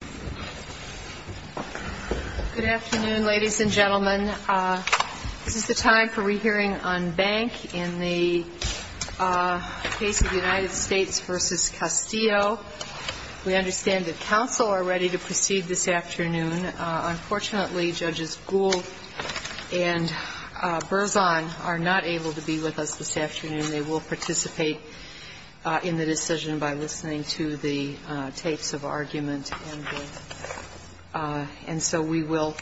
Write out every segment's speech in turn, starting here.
Good afternoon, ladies and gentlemen. This is the time for re-hearing on bank in the case of United States v. Castillo. We understand that counsel are ready to proceed this afternoon. Unfortunately, Judges Gould and Berzon are not able to be with us this afternoon. They will participate in the decision by listening to the tapes of argument and so we will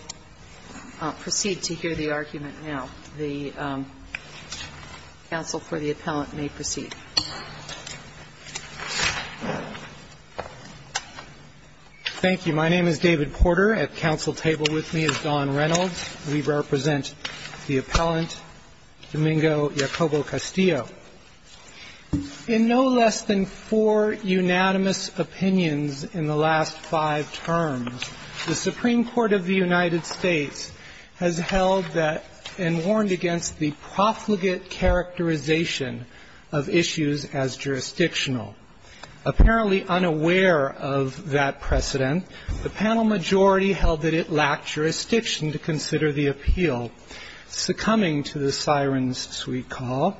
proceed to hear the argument now. The counsel for the appellant may proceed. David Porter Thank you. My name is David Porter. At counsel's table with me is Don Reynolds. We represent the appellant, Domingo Yacobo-Castillo. In no less than four unanimous opinions in the last five terms, the Supreme Court of the United States has held that and warned against the profligate characterization of issues as jurisdictional. Apparently unaware of that precedent, the panel majority held that it lacked jurisdiction to consider the appeal, succumbing to the siren's sweet call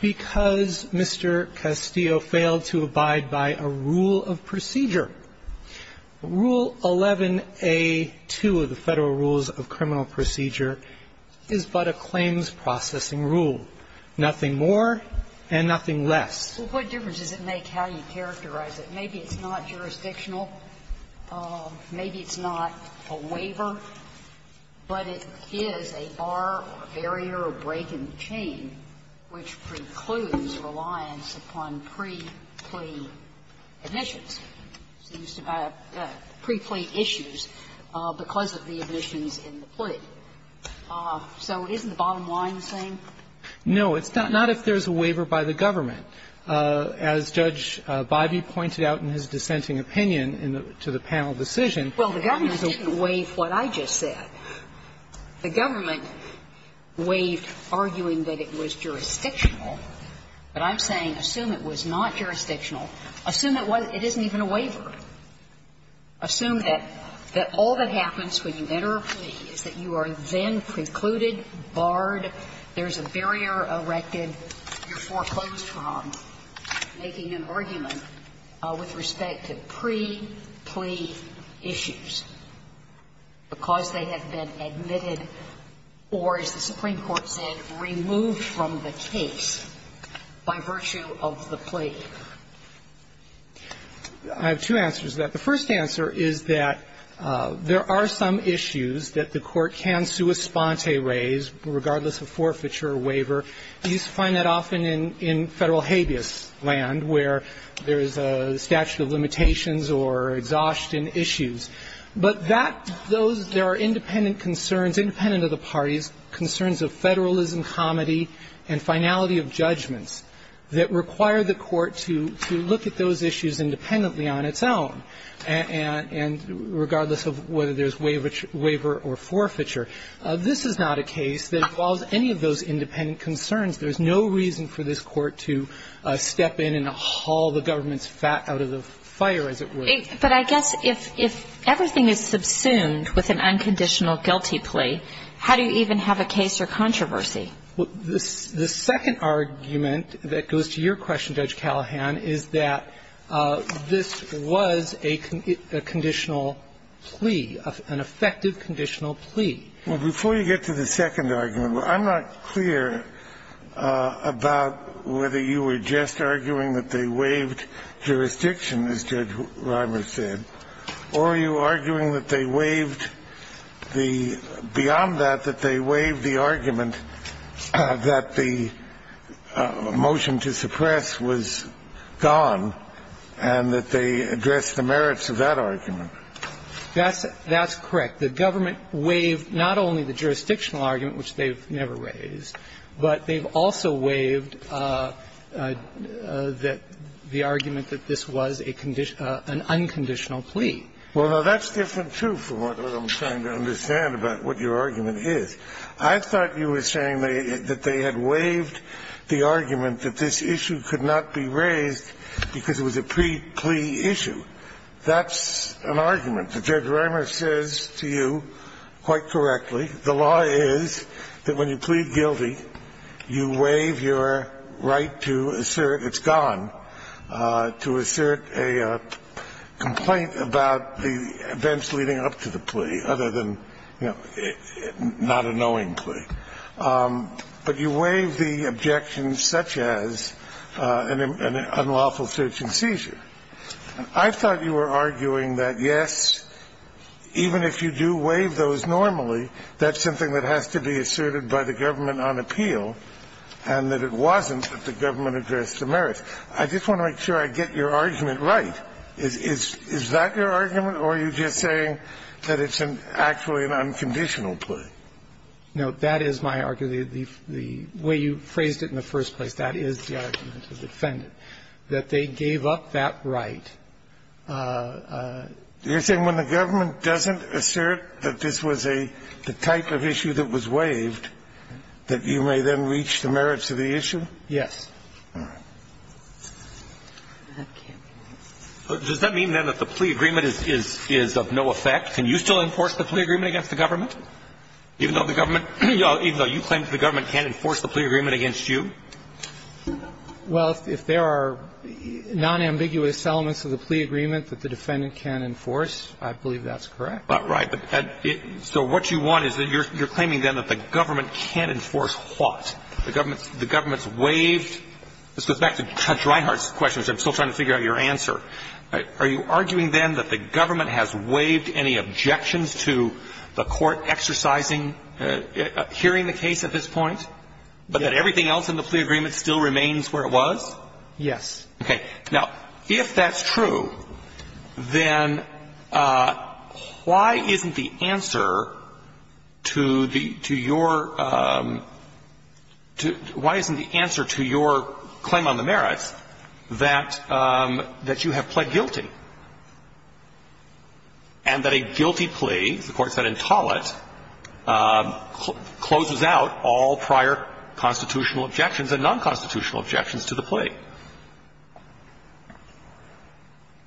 because Mr. Castillo failed to abide by a rule of procedure. Rule 11a2 of the Federal Rules of Criminal Procedure is but a claims processing rule, nothing more and nothing less. Sotomayor Well, what difference does it make how you characterize it? Maybe it's not jurisdictional, maybe it's not a waiver, but it is a bar or a barrier or a break in the chain which precludes reliance upon pre-plea admissions, pre-plea issues because of the admissions in the plea. So isn't the bottom line the same? No, it's not. Not if there's a waiver by the government. As Judge Bivey pointed out in his dissenting opinion to the panel decision. Well, the government didn't waive what I just said. The government waived arguing that it was jurisdictional. But I'm saying assume it was not jurisdictional. Assume it wasn't. It isn't even a waiver. Assume that all that happens when you enter a plea is that you are then precluded, barred, there's a barrier erected, you're foreclosed from, making an argument with respect to pre-plea issues because they have been admitted or, as the Supreme Court said, removed from the case by virtue of the plea. I have two answers to that. The first answer is that there are some issues that the Court can sua sponte raise, regardless of forfeiture or waiver. You find that often in Federal habeas land where there is a statute of limitations or exhaustion issues. But that, those, there are independent concerns, independent of the parties, concerns of federalism, comity, and finality of judgments that require the Court to look at those issues independently on its own, and regardless of whether there's waiver or forfeiture. This is not a case that involves any of those independent concerns. There's no reason for this Court to step in and haul the government's fat out of the fire, as it were. But I guess if everything is subsumed with an unconditional guilty plea, how do you even have a case or controversy? The second argument that goes to your question, Judge Callahan, is that this was a conditional plea, an effective conditional plea. Well, before you get to the second argument, I'm not clear about whether you were just arguing that they waived jurisdiction, as Judge Reimer said, or are you arguing that they waived the beyond that, that they waived the argument that the motion to suppress was gone and that they addressed the merits of that argument? That's correct. The government waived not only the jurisdictional argument, which they've never raised, but they've also waived the argument that this was a unconditional plea. Well, no, that's different, too, from what I'm trying to understand about what your argument is. I thought you were saying that they had waived the argument that this issue could not be raised because it was a plea issue. That's an argument that Judge Reimer says to you quite correctly. The law is that when you plead guilty, you waive your right to assert it's gone, to assert a complaint about the events leading up to the plea, other than, you know, not a knowing plea. But you waive the objections such as an unlawful search and seizure. I thought you were arguing that, yes, even if you do waive those normally, that's something that has to be asserted by the government on appeal and that it wasn't that the government addressed the merits. I just want to make sure I get your argument right. Is that your argument, or are you just saying that it's actually an unconditional plea? No, that is my argument. The way you phrased it in the first place, that is the argument of the defendant, that they gave up that right. You're saying when the government doesn't assert that this was a type of issue that was waived, that you may then reach the merits of the issue? Yes. All right. Does that mean, then, that the plea agreement is of no effect? Can you still enforce the plea agreement against the government, even though the government – even though you claim that the government can't enforce the plea agreement against you? Well, if there are nonambiguous elements of the plea agreement that the defendant can't enforce, I believe that's correct. Right. So what you want is that you're claiming, then, that the government can't enforce what? The government's waived – this goes back to Judge Reinhardt's question, which I'm still trying to figure out your answer. Are you arguing, then, that the government has waived any objections to the court exercising – hearing the case at this point, but that everything else in the plea agreement still remains where it was? Yes. Okay. Now, if that's true, then why isn't the answer to the – to your – to – why isn't the answer to your claim on the merits that – that you have pled guilty and that a guilty plea, as the Court said in Tollett, closes out all prior constitutional objections and nonconstitutional objections to the plea?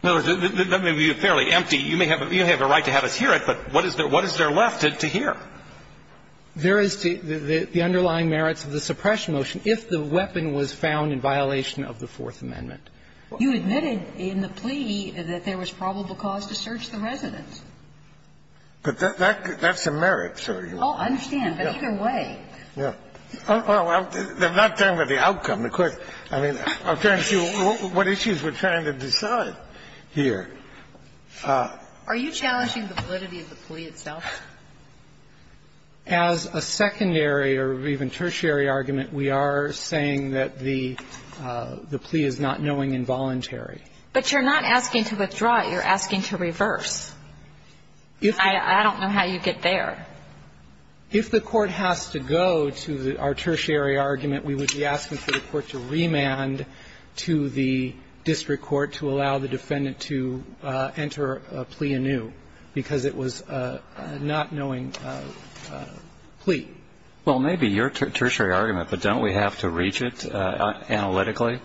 In other words, that may be fairly empty. You may have a right to have us hear it, but what is there left to hear? There is the underlying merits of the suppression motion if the weapon was found in violation of the Fourth Amendment. You admitted in the plea that there was probable cause to search the residence. But that's a merit, so you are – Oh, I understand. But either way – Yeah. Well, they're not talking about the outcome. The Court – I mean, I'm trying to see what issues we're trying to decide here. Are you challenging the validity of the plea itself? As a secondary or even tertiary argument, we are saying that the – the plea is not knowing involuntary. But you're not asking to withdraw it. You're asking to reverse. If the – I don't know how you get there. If the Court has to go to our tertiary argument, we would be asking for the Court to remand to the district court to allow the defendant to enter a plea anew, because it was a not knowing plea. Well, maybe your tertiary argument, but don't we have to reach it analytically?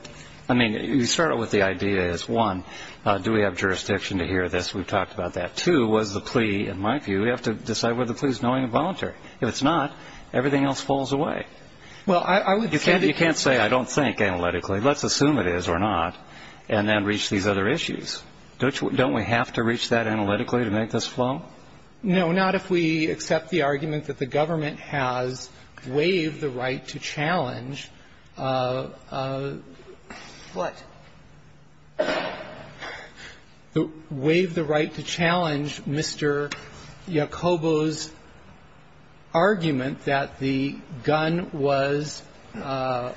I mean, you start out with the idea as, one, do we have jurisdiction to hear this? We've talked about that. Two, was the plea, in my view, we have to decide whether the plea is knowing involuntary. If it's not, everything else falls away. Well, I would say that – You can't say, I don't think, analytically. Let's assume it is or not, and then reach these other issues. Don't we have to reach that analytically to make this flow? No, not if we accept the argument that the government has waived the right to challenge the – waived the right to challenge Mr. Yacobo's argument that the gun was found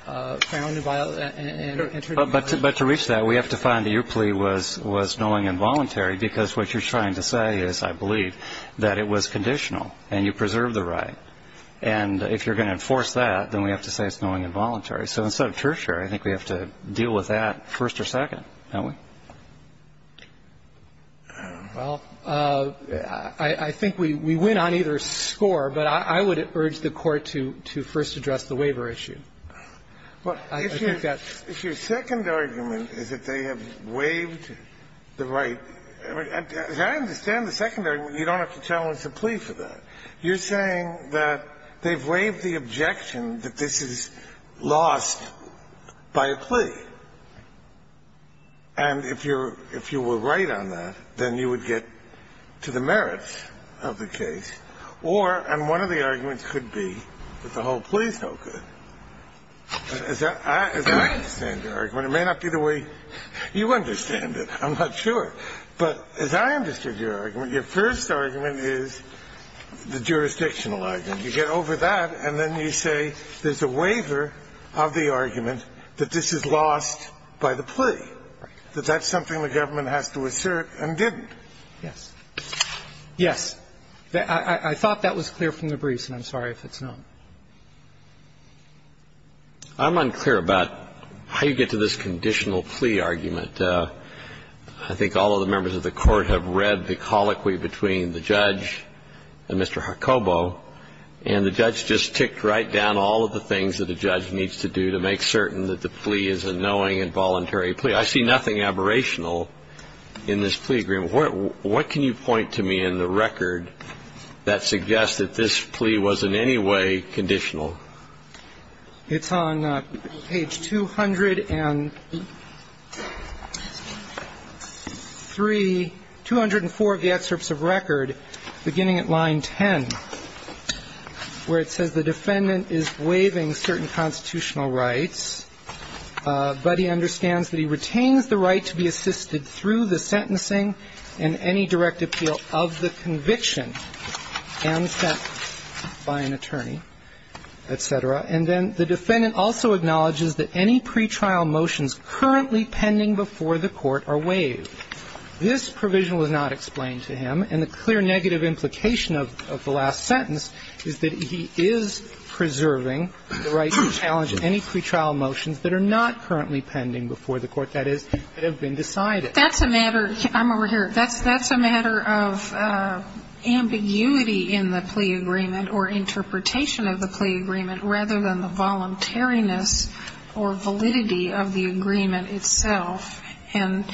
and entered in violation. But to reach that, we have to find that your plea was knowing involuntary, because what you're trying to say is, I believe, that it was conditional, and you preserved the right. And if you're going to enforce that, then we have to say it's knowing involuntary. So instead of tertiary, I think we have to deal with that first or second, don't we? Well, I think we win on either score, but I would urge the Court to first address the waiver issue. I think that's – If your second argument is that they have waived the right – as I understand the second argument, you don't have to challenge the plea for that. You're saying that they've waived the objection that this is lost by a plea. And if you're – if you were right on that, then you would get to the merits of the case. Or – and one of the arguments could be that the whole plea is no good. As I understand your argument, it may not be the way you understand it. I'm not sure. But as I understood your argument, your first argument is the jurisdictional argument. You get over that, and then you say there's a waiver of the argument that this is lost by the plea. That that's something the government has to assert and didn't. Yes. Yes. I thought that was clear from the briefs, and I'm sorry if it's not. I'm unclear about how you get to this conditional plea argument. I think all of the members of the Court have read the colloquy between the judge and Mr. Jacobo, and the judge just ticked right down all of the things that a judge needs to do to make certain that the plea is a knowing and voluntary plea. I see nothing aberrational in this plea agreement. What can you point to me in the record that suggests that this plea was in any way conditional? It's on page 203, 204 of the excerpts of record, beginning at line 10, where it says the defendant is waiving certain constitutional rights, but he understands that he retains the right to be assisted through the sentencing and any direct appeal of the conviction and sentencing by an attorney, et cetera. And then the defendant also acknowledges that any pretrial motions currently pending before the Court are waived. This provision was not explained to him, and the clear negative implication of the last sentence is that he is preserving the right to challenge any pretrial motions that are not currently pending before the Court, that is, that have been decided. That's a matter of ambiguity in the plea agreement or interpretation of the plea agreement, rather than the voluntariness or validity of the agreement itself. And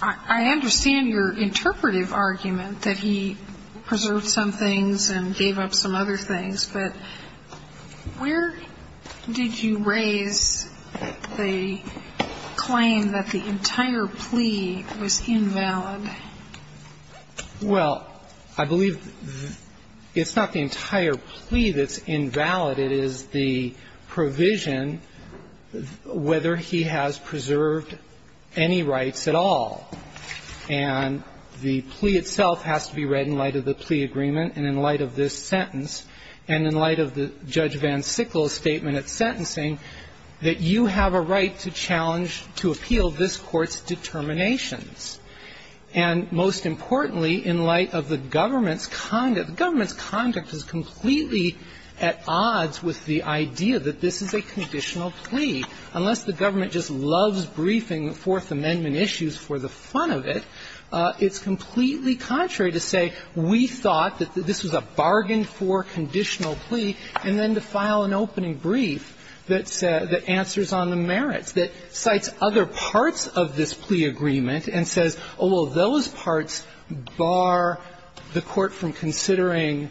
I understand your interpretive argument that he preserved some things and gave up some other things, but where did you raise the claim that the entire plea was invalid? Well, I believe it's not the entire plea that's invalid. It is the provision whether he has preserved any rights at all. And the plea itself has to be read in light of the plea agreement and in light of this sentence and in light of Judge Van Sickle's statement at sentencing that you have a right to challenge, to appeal this Court's determinations. And most importantly, in light of the government's conduct, the government's conduct is completely at odds with the idea that this is a conditional plea. Unless the government just loves briefing Fourth Amendment issues for the fun of it, it's completely contrary to say we thought that this was a bargain for conditional plea, and then to file an opening brief that answers on the merits, that cites other parts of this plea agreement and says, oh, well, those parts bar the Court from considering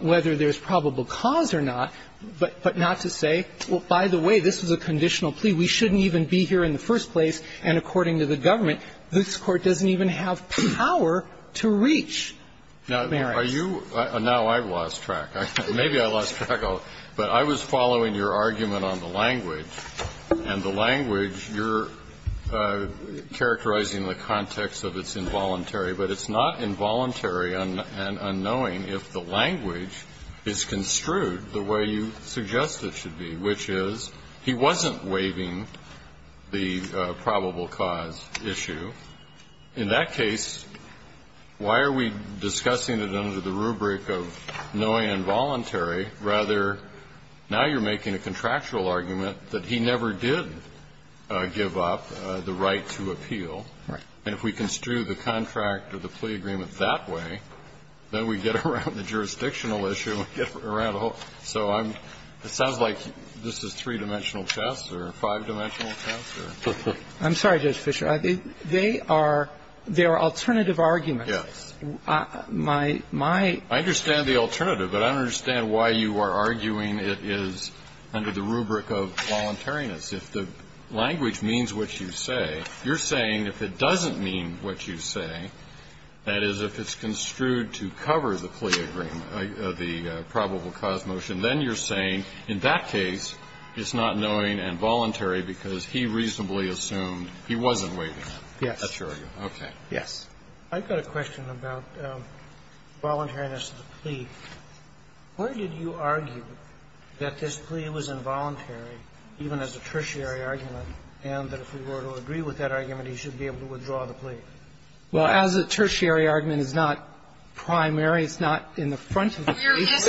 whether there's probable cause or not, but not to say, well, by the way, this was a conditional plea, we shouldn't even be here in the first place, and according to the government, this Court doesn't even have power to reach merits. Now, are you – now I've lost track. Maybe I lost track, but I was following your argument on the language, and the language, you're characterizing the context of it's involuntary, but it's not involuntary and unknowing if the language is construed the way you suggest it should be, which is he wasn't waiving the probable cause issue. In that case, why are we discussing it under the rubric of knowing involuntary? Rather, now you're making a contractual argument that he never did give up the right to appeal. Right. And if we construe the contract or the plea agreement that way, then we get around the jurisdictional issue and get around the whole – so I'm – it sounds like this is three-dimensional chess or five-dimensional chess, or – I'm sorry, Judge Fischer. They are – they are alternative arguments. Yes. My – my – I understand the alternative, but I don't understand why you are arguing it is under the rubric of voluntariness. If the language means what you say, you're saying if it doesn't mean what you say, that is, if it's construed to cover the plea agreement, the probable cause motion, then you're saying in that case it's not knowing involuntary because he reasonably assumed he wasn't waiving it. Yes. That's your argument. Okay. Yes. I've got a question about voluntariness of the plea. Where did you argue that this plea was involuntary, even as a tertiary argument, and that if we were to agree with that argument, he should be able to withdraw the plea? Well, as a tertiary argument, it's not primary. It's not in the front of the case.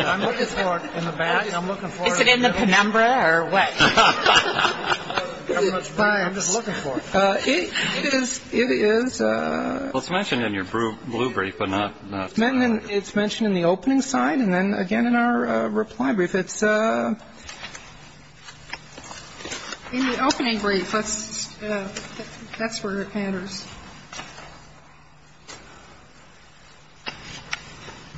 I'm looking for it in the back. I'm looking for it in the middle. Is it in the penumbra or what? It is – it is – It was mentioned in your blue brief, but not in the front. It's mentioned in the opening side and then again in our reply brief. It's – In the opening brief, that's where it matters.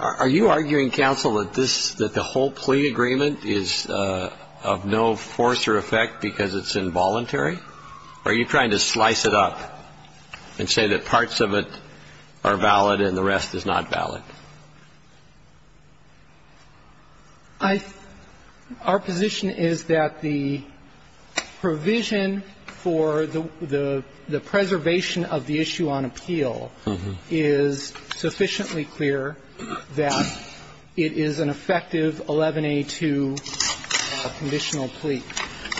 Are you arguing, counsel, that this – that the whole plea agreement is of no force or effect because it's involuntary, or are you trying to slice it up and say that parts of it are valid and the rest is not valid? I – our position is that the provision for the – the preservation of the plea agreement is of no force because it's involuntary, or are you trying to slice it up and say that parts of it are valid and the rest is not valid? I'm not trying to slice it up and say that parts of it are valid and the rest is not I'm trying to say that the provision for the plea agreement is of no force because it's involuntary, or are you trying to slice it up and say that parts of it are valid and the rest is not valid? I'm trying to say that the provision for the plea agreement is of no force because it's involuntary, or are you trying to slice it up and say that parts of it are valid and the rest is not valid? And I think that's a very important argument that you're making, either that you can find a conditional way of –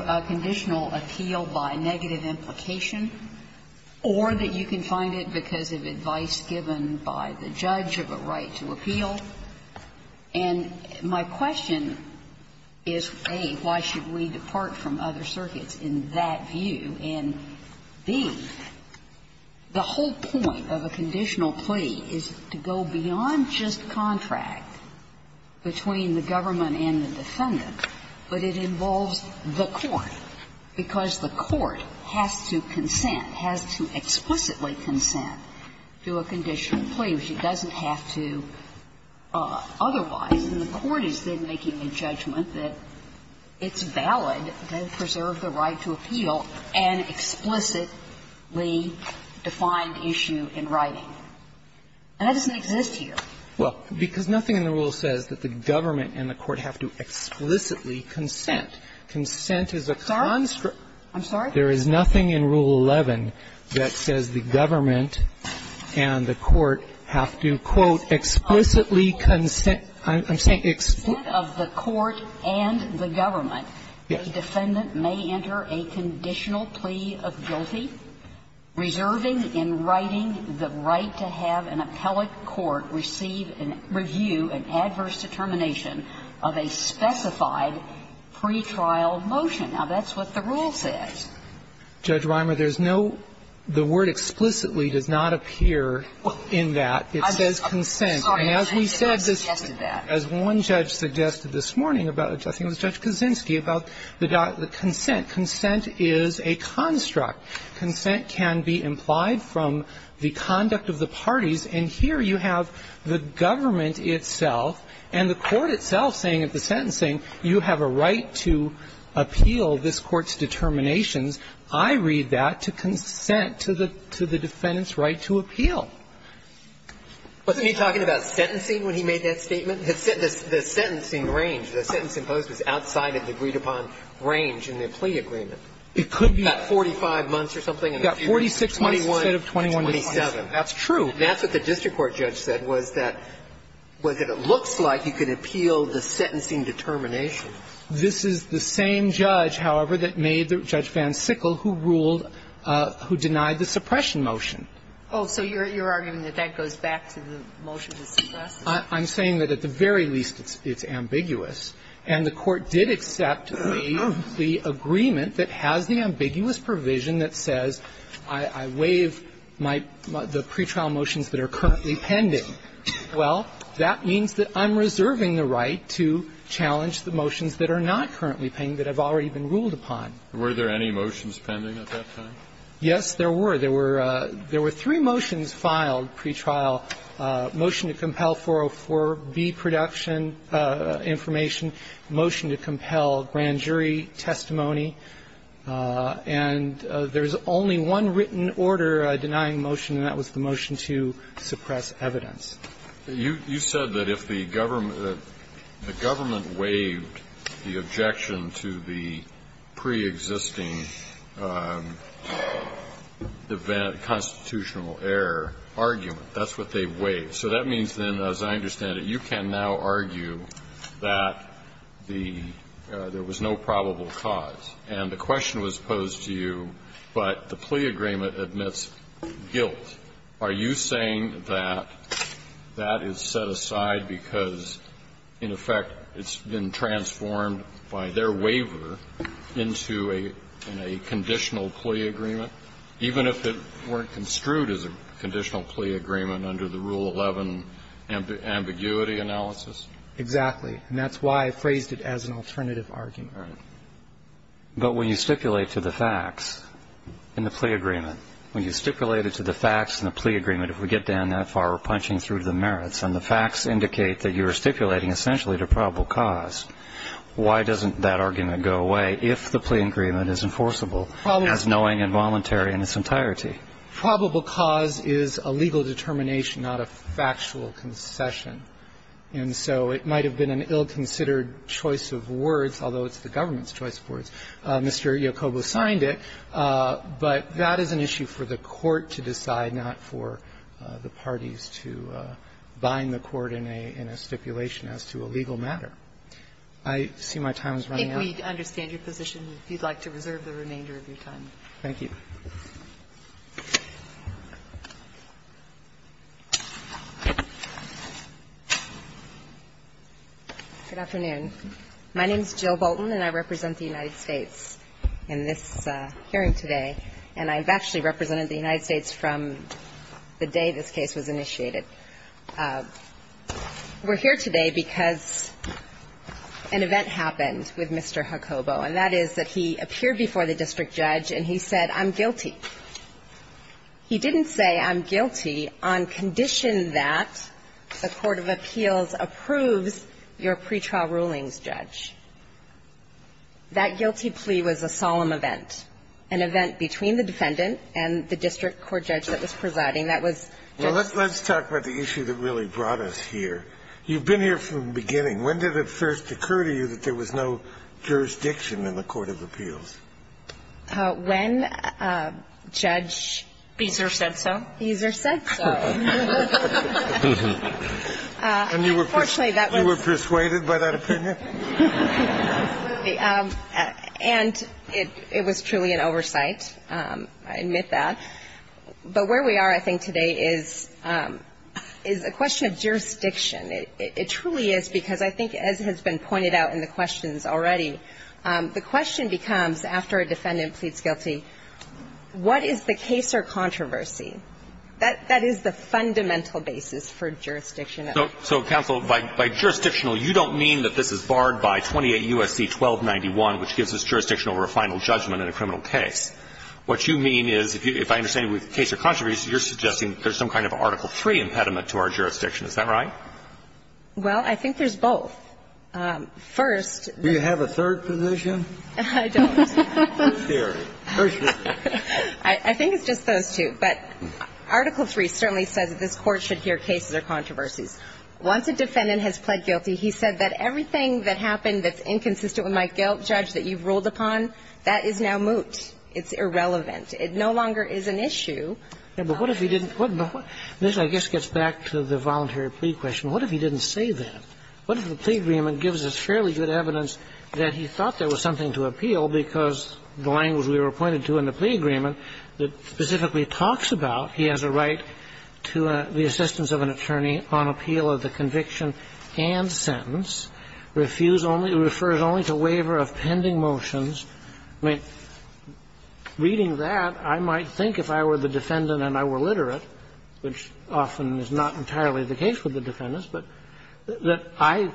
a conditional appeal by negative implication or that you can find it because of advice given by the judge of a right to appeal. And my question is, A, why should we depart from other circuits in that view, and, B, the whole point of a conditional plea is to go beyond just contract between the government and the defendant, but it involves the court, because the court has to consent, has to explicitly consent to a conditional plea, which it doesn't have to otherwise. And the court is then making a judgment that it's valid to preserve the right to appeal and explicitly defined issue in writing. And that doesn't exist here. Well, because nothing in the rule says that the government and the court have to explicitly consent. Consent is a construct. I'm sorry? There is nothing in Rule 11 that says the government and the court have to, quote, explicitly consent. I'm saying explicitly. If, in the event of the court and the government, a defendant may enter a conditional plea of guilty, reserving in writing the right to have an appellate court receive and review an adverse determination of a specified pretrial motion, now, that's what the rule says. Judge Rimer, there's no – the word explicitly does not appear in that. It says consent. I'm sorry. I didn't suggest that. As one judge suggested this morning about – I think it was Judge Kaczynski about the – consent. Consent is a construct. Consent can be implied from the conduct of the parties. And here you have the government itself and the court itself saying at the sentencing, you have a right to appeal this Court's determinations. I read that to consent to the defendant's right to appeal. Wasn't he talking about sentencing when he made that statement? The sentencing range, the sentence imposed was outside of the agreed-upon range in the plea agreement. It could be. About 45 months or something. About 46 months instead of 21 to 27. That's true. That's what the district court judge said, was that it looks like you could appeal the sentencing determination. This is the same judge, however, that made the – Judge Van Sickle, who ruled – who denied the suppression motion. Oh, so you're arguing that that goes back to the motion that's suppressed? I'm saying that at the very least it's ambiguous. And the court did accept the agreement that has the ambiguous provision that says I waive my – the pretrial motions that are currently pending. Well, that means that I'm reserving the right to challenge the motions that are not currently pending, that have already been ruled upon. Were there any motions pending at that time? Yes, there were. There were three motions filed pretrial. Motion to compel 404B production information. Motion to compel grand jury testimony. And there's only one written order denying motion, and that was the motion to suppress evidence. You said that if the government waived the objection to the preexisting constitutional error argument, that's what they waived. So that means then, as I understand it, you can now argue that the – there was no probable cause. And the question was posed to you, but the plea agreement admits guilt. Are you saying that that is set aside because, in effect, it's been transformed by their waiver into a – in a conditional plea agreement, even if it weren't construed as a conditional plea agreement under the Rule 11 ambiguity analysis? Exactly. And that's why I phrased it as an alternative argument. But when you stipulate to the facts in the plea agreement, when you stipulate it to the facts in the plea agreement, if we get down that far, we're punching through the merits, and the facts indicate that you are stipulating, essentially, to probable cause, why doesn't that argument go away if the plea agreement is enforceable as knowing and voluntary in its entirety? Probable cause is a legal determination, not a factual concession. And so it might have been an ill-considered choice of words, although it's the government's choice of words. Mr. Yacobo signed it, but that is an issue for the Court to decide, not for the parties to bind the Court in a stipulation as to a legal matter. I see my time is running out. If we understand your position, if you'd like to reserve the remainder of your time. Thank you. Good afternoon. My name is Jill Bolton, and I represent the United States in this hearing today. And I've actually represented the United States from the day this case was initiated. We're here today because an event happened with Mr. Yacobo, and that is that he appeared before the district judge and he said, I'm guilty. He didn't say, I'm guilty on condition that the court of appeals approves your pretrial rulings, Judge. That guilty plea was a solemn event, an event between the defendant and the district court judge that was presiding. That was just the case. Well, let's talk about the issue that really brought us here. You've been here from the beginning. When did it first occur to you that there was no jurisdiction in the court of appeals? When Judge Beezer said so. Beezer said so. And you were persuaded by that opinion? Absolutely. And it was truly an oversight. I admit that. But where we are, I think, today is a question of jurisdiction. It truly is, because I think, as has been pointed out in the questions already, the question becomes, after a defendant pleads guilty, what is the case or controversy? That is the fundamental basis for jurisdiction. So, counsel, by jurisdictional, you don't mean that this is barred by 28 U.S.C. 1291, which gives us jurisdiction over a final judgment in a criminal case. What you mean is, if I understand it, with case or controversy, you're suggesting there's some kind of Article III impediment to our jurisdiction. Is that right? Well, I think there's both. First, the ---- Do you have a third position? I don't. I think it's just those two. But Article III certainly says that this Court should hear cases or controversies. Once a defendant has pled guilty, he said that everything that happened that's inconsistent with my guilt, Judge, that you've ruled upon, that is now moot. It's irrelevant. It no longer is an issue. Yeah, but what if he didn't ---- This, I guess, gets back to the voluntary plea question. What if he didn't say that? What if the plea agreement gives us fairly good evidence that he thought there was something to appeal because the language we were pointed to in the plea agreement that specifically talks about he has a right to the assistance of an attorney on appeal of the conviction and sentence, refuse only ---- refers only to waiver of pending motions? I mean, reading that, I might think if I were the defendant and I were literate, which often is not entirely the case with the defendants, but that I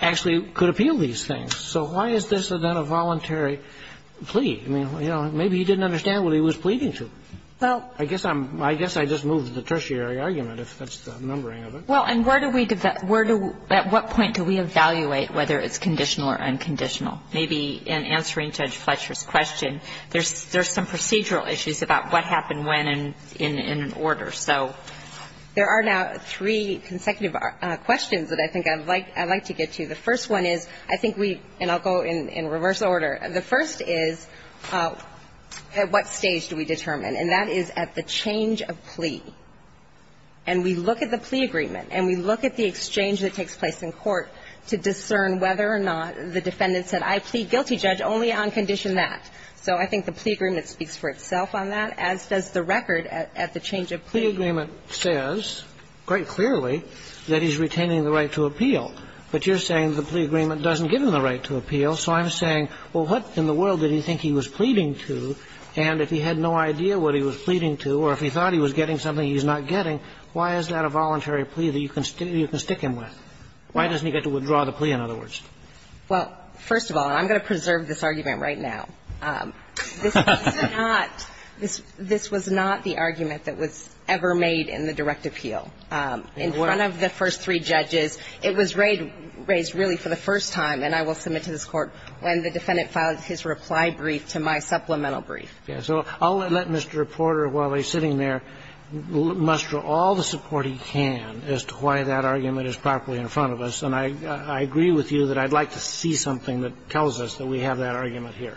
actually could appeal these things. So why is this, then, a voluntary plea? I mean, you know, maybe he didn't understand what he was pleading to. Well, I guess I'm ---- I guess I just moved the tertiary argument, if that's the numbering of it. Well, and where do we ---- where do we ---- at what point do we evaluate whether it's conditional or unconditional? Maybe in answering Judge Fletcher's question, there's some procedural issues about what happened when in an order. So there are now three consecutive questions that I think I'd like to get to. The first one is, I think we ---- and I'll go in reverse order. The first is, at what stage do we determine? And that is at the change of plea. And we look at the plea agreement and we look at the exchange that takes place in court to discern whether or not the defendant said, I plead guilty, Judge, only on condition that. So I think the plea agreement speaks for itself on that, as does the record at the change of plea. Kagan. Plea agreement says, quite clearly, that he's retaining the right to appeal. But you're saying the plea agreement doesn't give him the right to appeal. So I'm saying, well, what in the world did he think he was pleading to? And if he had no idea what he was pleading to or if he thought he was getting something he's not getting, why is that a voluntary plea that you can stick him with? Why doesn't he get to withdraw the plea, in other words? Well, first of all, and I'm going to preserve this argument right now. This was not the argument that was ever made in the direct appeal. In front of the first three judges, it was raised really for the first time, and I will submit to this Court, when the defendant filed his reply brief to my supplemental brief. So I'll let Mr. Reporter, while he's sitting there, muster all the support he can as to why that argument is properly in front of us. And I agree with you that I'd like to see something that tells us that we have that argument here.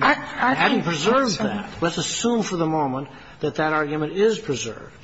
I think that's a question. Let's assume for the moment that that argument is preserved.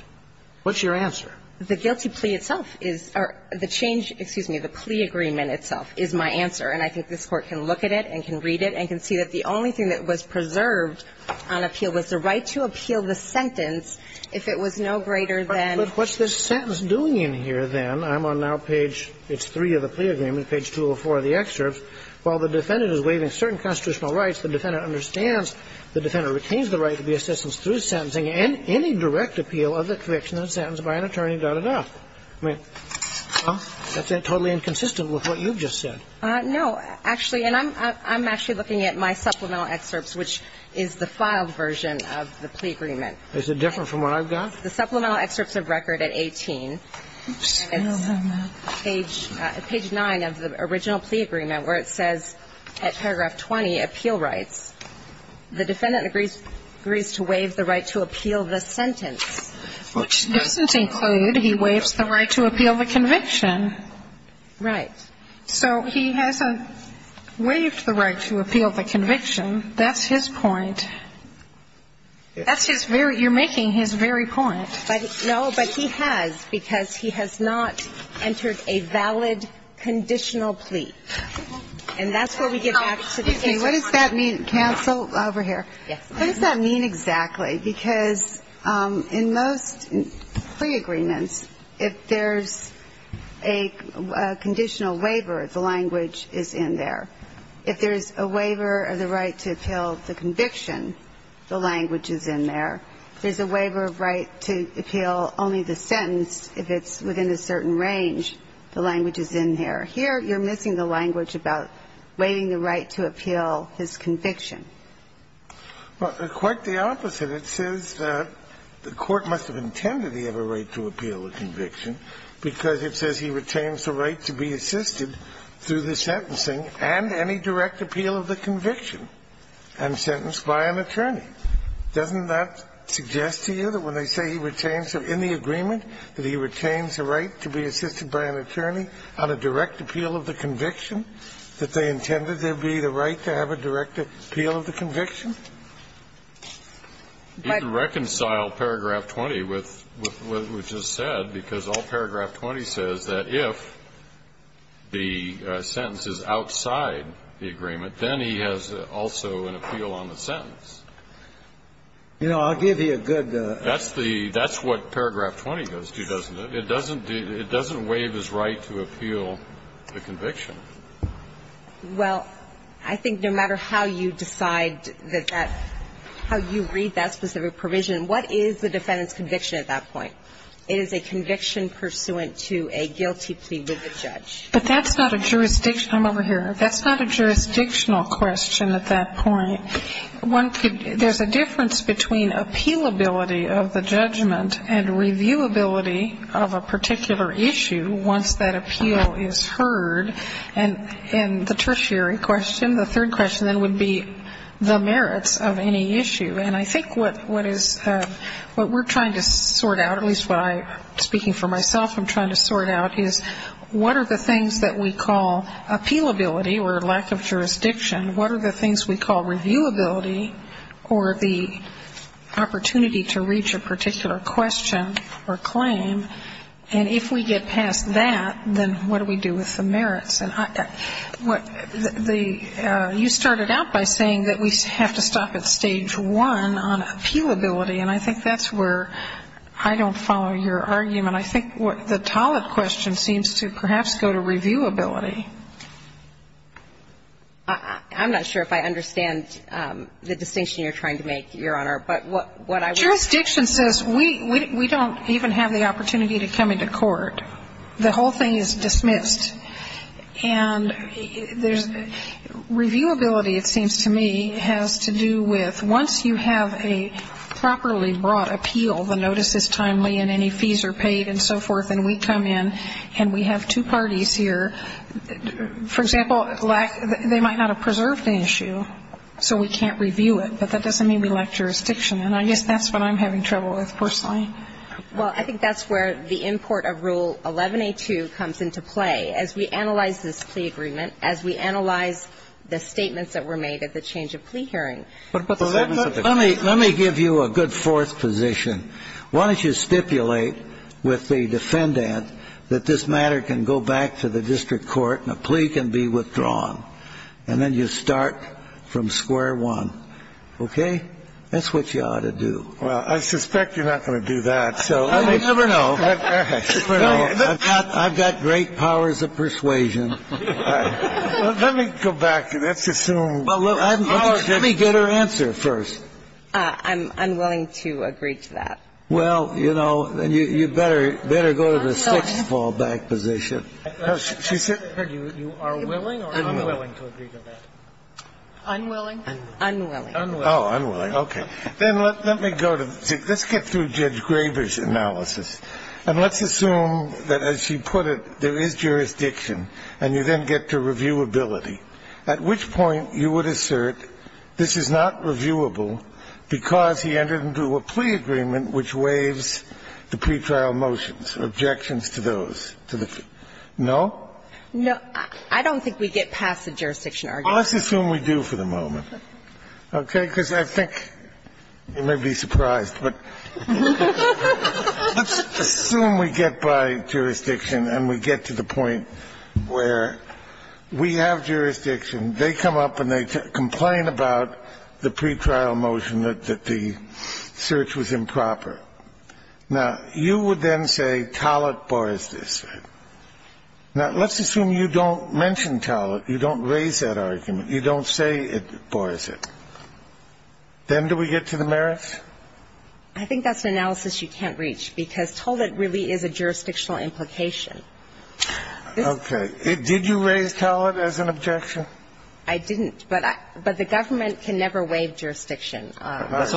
What's your answer? The guilty plea itself is or the change, excuse me, the plea agreement itself is my answer. And I think this Court can look at it and can read it and can see that the only thing that was preserved on appeal was the right to appeal the sentence if it was no greater than the sentence. But what's this sentence doing in here, then? I'm on now page three of the plea agreement, page 204 of the excerpt. While the defendant is waiving certain constitutional rights, the defendant understands, the defendant retains the right to be assistance through sentencing and any direct appeal of the conviction and sentence by an attorney, dot, dot, dot. I mean, well, that's totally inconsistent with what you've just said. No. Actually, and I'm actually looking at my supplemental excerpts, which is the filed version of the plea agreement. Is it different from what I've got? The supplemental excerpts of record at 18. Oops. Page 9 of the original plea agreement, where it says at paragraph 20, appeal rights. The defendant agrees to waive the right to appeal the sentence. Which doesn't include he waives the right to appeal the conviction. Right. So he hasn't waived the right to appeal the conviction. That's his point. That's his very – you're making his very point. But no, but he has, because he has not entered a valid conditional plea. And that's what we get back to the case. What does that mean? Cancel over here. Yes. What does that mean exactly? Because in most plea agreements, if there's a conditional waiver, the language is in there. If there's a waiver of the right to appeal the conviction, the language is in there. If there's a waiver of right to appeal only the sentence, if it's within a certain range, the language is in there. Here, you're missing the language about waiving the right to appeal his conviction. Well, quite the opposite. It says that the court must have intended he have a right to appeal the conviction because it says he retains the right to be assisted through the sentencing and any direct appeal of the conviction and sentenced by an attorney. Doesn't that suggest to you that when they say he retains – in the agreement that he retains the right to be assisted by an attorney on a direct appeal of the conviction, that they intended there be the right to have a direct appeal of the conviction? He can reconcile paragraph 20 with what was just said, because all paragraph 20 says that if the sentence is outside the agreement, then he has also an appeal on the sentence. You know, I'll give you a good – That's the – that's what paragraph 20 goes to, doesn't it? It doesn't do – it doesn't waive his right to appeal the conviction. Well, I think no matter how you decide that that – how you read that specific provision, what is the defendant's conviction at that point? It is a conviction pursuant to a guilty plea with the judge. But that's not a jurisdiction – I'm over here. That's not a jurisdictional question at that point. One could – there's a difference between appealability of the judgment and reviewability of a particular issue once that appeal is heard. And the tertiary question, the third question then would be the merits of any issue. And I think what is – what we're trying to sort out, at least what I – speaking for myself, I'm trying to sort out is what are the things that we call reviewability or the opportunity to reach a particular question or claim. And if we get past that, then what do we do with the merits? And what the – you started out by saying that we have to stop at stage one on appealability. And I think that's where I don't follow your argument. I think what the Tollett question seems to perhaps go to reviewability. I'm not sure if I understand the distinction you're trying to make, Your Honor. But what I was – Jurisdiction says we don't even have the opportunity to come into court. The whole thing is dismissed. And there's – reviewability, it seems to me, has to do with once you have a properly brought appeal, the notice is timely and any fees are paid and so forth, and we come in and we have two parties here. For example, they might not have preserved the issue, so we can't review it. But that doesn't mean we lack jurisdiction. And I guess that's what I'm having trouble with personally. Well, I think that's where the import of Rule 11a2 comes into play, as we analyze this plea agreement, as we analyze the statements that were made at the change of plea hearing. Let me give you a good fourth position. Why don't you stipulate with the defendant that this matter can go back to the district court and a plea can be withdrawn. And then you start from square one. Okay? That's what you ought to do. Well, I suspect you're not going to do that, so. You never know. I've got great powers of persuasion. Let me go back and let's assume. Let me get her answer first. I'm willing to agree to that. Well, you know, you better go to the sixth fallback position. You are willing or unwilling to agree to that? Unwilling. Unwilling. Oh, unwilling. Okay. Then let me go to the sixth. Let's get through Judge Graber's analysis. And let's assume that, as she put it, there is jurisdiction and you then get to reviewability, at which point you would assert this is not reviewable because he entered into a plea agreement which waives the pretrial motions, objections to those. No? No. I don't think we get past the jurisdiction argument. Let's assume we do for the moment. Okay? Because I think you may be surprised, but let's assume we get by jurisdiction and we get to the point where we have jurisdiction, they come up and they complain about the pretrial motion that the search was improper. Now, you would then say Tollett bars this. Now, let's assume you don't mention Tollett, you don't raise that argument, you don't say it bars it. Then do we get to the merits? I think that's an analysis you can't reach because Tollett really is a jurisdictional implication. Okay. Did you raise Tollett as an objection? I didn't. But the government can never waive jurisdiction. Let me ask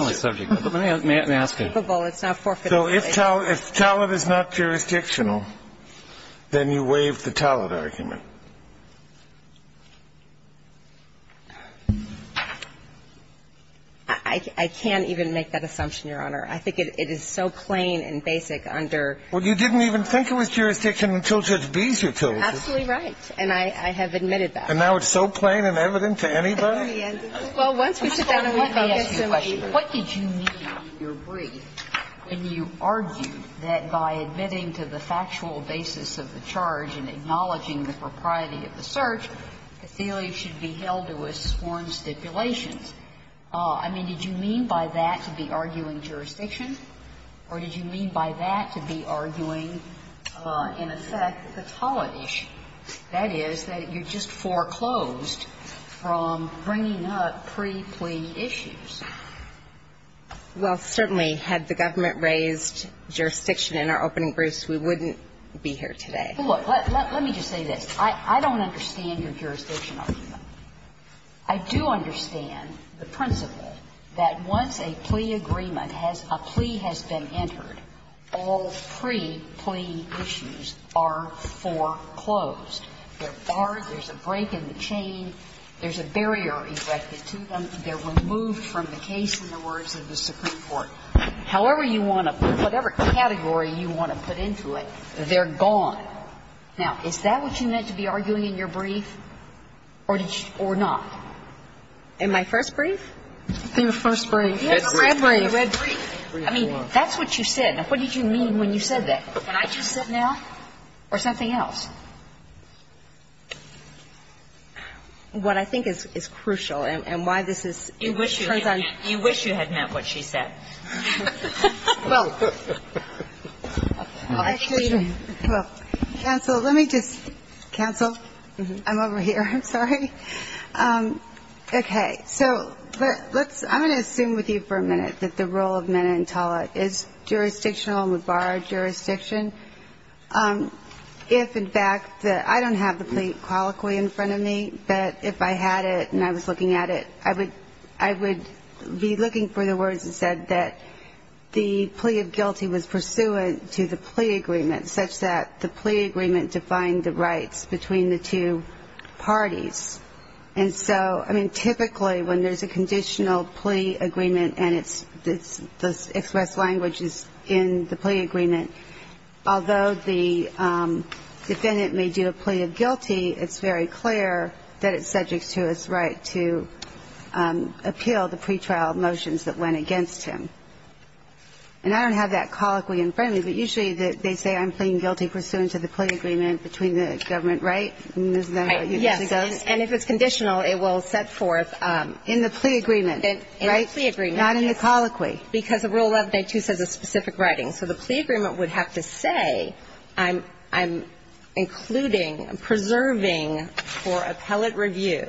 you. So if Tollett is not jurisdictional, then you waive the Tollett argument. I can't even make that assumption, Your Honor. I think it is so plain and basic under the statute. Well, you didn't even think it was jurisdictional until Judge Beeser told you. Absolutely right. And I have admitted that. And now it's so plain and evident to anybody? Well, once we sit down and let me ask you a question. What did you mean, your brief, when you argued that by admitting to the factual basis of the charge and acknowledging the propriety of the search, Cothelia should be held to a sworn stipulation? I mean, did you mean by that to be arguing jurisdiction, or did you mean by that to be arguing, in effect, the Tollett issue? That is, that you just foreclosed from bringing up pre-plea issues. Well, certainly, had the government raised jurisdiction in our opening briefs, we wouldn't be here today. Let me just say this. I don't understand your jurisdiction argument. I do understand the principle that once a plea agreement has been entered, all pre-plea issues are foreclosed. They're barred. There's a break in the chain. There's a barrier erected to them. They're removed from the case in the words of the Supreme Court. However you want to put it, whatever category you want to put into it, they're gone. Now, is that what you meant to be arguing in your brief, or did you or not? In my first brief? Your first brief. The red brief. The red brief. I mean, that's what you said. Now, what did you mean when you said that? What I just said now? Or something else? What I think is crucial, and why this is, it turns out. You wish you had meant what she said. Well, actually, counsel, let me just, counsel, I'm over here. I'm sorry. Okay. So let's, I'm going to assume with you for a minute that the role of Menentala is jurisdictional and would bar jurisdiction. If in fact the, I don't have the plea colloquy in front of me, but if I had it and I was looking at it, I would be looking for the words that said that the plea of guilty was pursuant to the plea agreement, such that the plea agreement defined the rights between the two parties. And so, I mean, typically when there's a conditional plea agreement and it's expressed language is in the plea agreement, although the defendant may do a plea of guilty, it's very clear that it's subject to his right to appeal the pretrial motions that went against him. And I don't have that colloquy in front of me, but usually they say I'm pleading guilty pursuant to the plea agreement between the government, right? Yes. And if it's conditional, it will set forth. In the plea agreement. In the plea agreement. Not in the colloquy. Because of Rule 11a2 says a specific writing. So the plea agreement would have to say I'm including, preserving for appellate review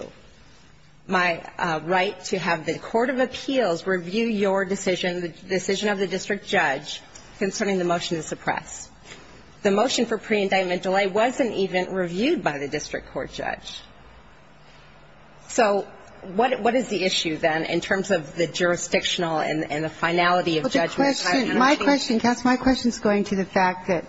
my right to have the court of appeals review your decision, the decision of the district judge concerning the motion to suppress. The motion for pre-indictment delay wasn't even reviewed by the district court judge. So what is the issue, then, in terms of the jurisdictional and the finality of judgment? Well, the question, my question, my question is going to the fact that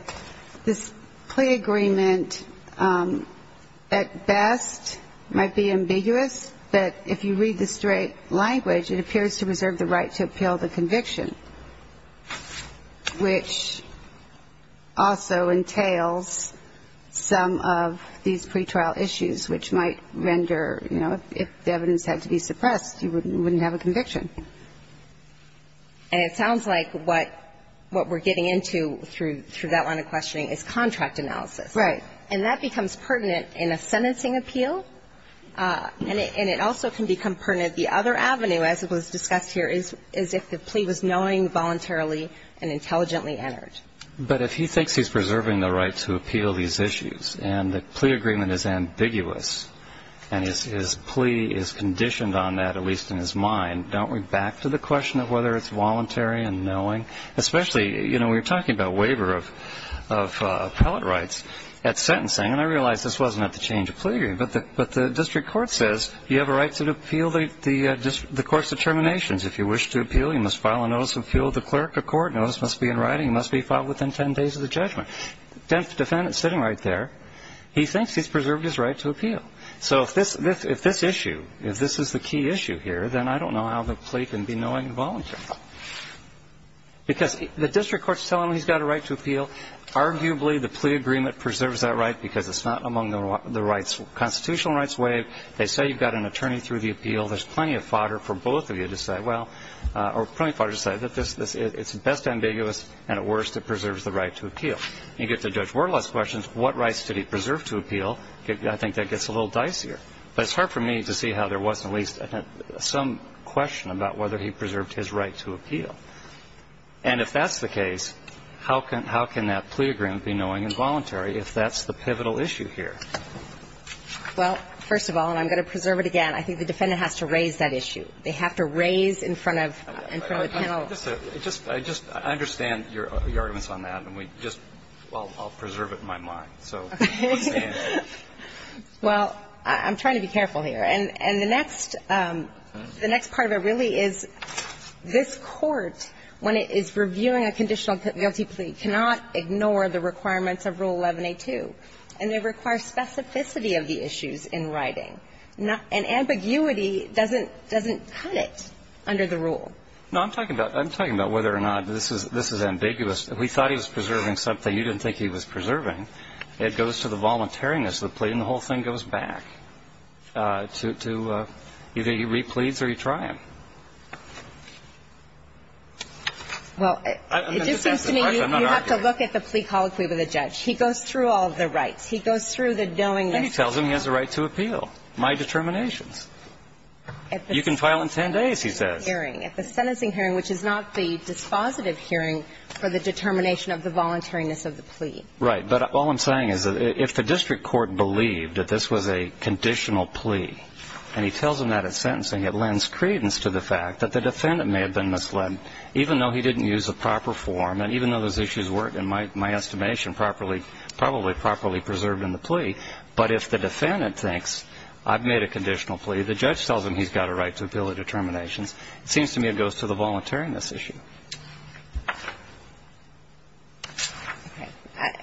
this plea agreement at best might be ambiguous, but if you read the straight language, it appears to reserve the right to appeal the conviction, which also entails some of these pretrial issues which might render, you know, if the evidence had to be suppressed, you wouldn't have a conviction. And it sounds like what we're getting into through that line of questioning is contract analysis. Right. And that becomes pertinent in a sentencing appeal, and it also can become pertinent the other avenue, as it was discussed here, is if the plea was knowing voluntarily and intelligently entered. But if he thinks he's preserving the right to appeal these issues and the plea agreement is ambiguous and his plea is conditioned on that, at least in his mind, don't we back to the question of whether it's voluntary and knowing? Especially, you know, we were talking about waiver of appellate rights at sentencing, and I realized this wasn't at the change of plea agreement, but the district court says you have a right to appeal the court's determinations. If you wish to appeal, you must file a notice of appeal. The clerk of court knows this must be in writing. It must be filed within 10 days of the judgment. The defendant is sitting right there. He thinks he's preserved his right to appeal. So if this issue, if this is the key issue here, then I don't know how the plea can be knowing voluntarily. Because the district court is telling him he's got a right to appeal. Arguably, the plea agreement preserves that right because it's not among the constitutional rights waived. They say you've got an attorney through the appeal. There's plenty of fodder for both of you to say, well, or plenty of fodder to say that it's best ambiguous, and at worst, it preserves the right to appeal. You get to Judge Werle's questions, what rights did he preserve to appeal, I think that gets a little dicier. But it's hard for me to see how there wasn't at least some question about whether he preserved his right to appeal. And if that's the case, how can that plea agreement be knowing and voluntary if that's the pivotal issue here? Well, first of all, and I'm going to preserve it again, I think the defendant has to raise that issue. They have to raise in front of the panel. I just understand your arguments on that, and I'll preserve it in my mind. Well, I'm trying to be careful here. And the next part of it really is this Court, when it is reviewing a conditional guilty plea, cannot ignore the requirements of Rule 11a2, and they require specificity of the issues in writing. And ambiguity doesn't cut it under the rule. No, I'm talking about whether or not this is ambiguous. If we thought he was preserving something you didn't think he was preserving, it goes to the voluntariness of the plea, and the whole thing goes back to either he re-pleads or he tried. Well, it just seems to me you have to look at the plea colloquy with a judge. He goes through all of the rights. He goes through the knowingness. And then he tells him he has a right to appeal, my determinations. You can file in 10 days, he says. At the sentencing hearing, which is not the dispositive hearing for the determination of the voluntariness of the plea. Right. But all I'm saying is that if the district court believed that this was a conditional plea, and he tells him that at sentencing, it lends credence to the fact that the defendant may have been misled, even though he didn't use the proper form and even though those issues weren't, in my estimation, probably properly preserved in the case, if the defendant thinks I've made a conditional plea, the judge tells him he's got a right to appeal the determinations, it seems to me it goes to the voluntariness issue.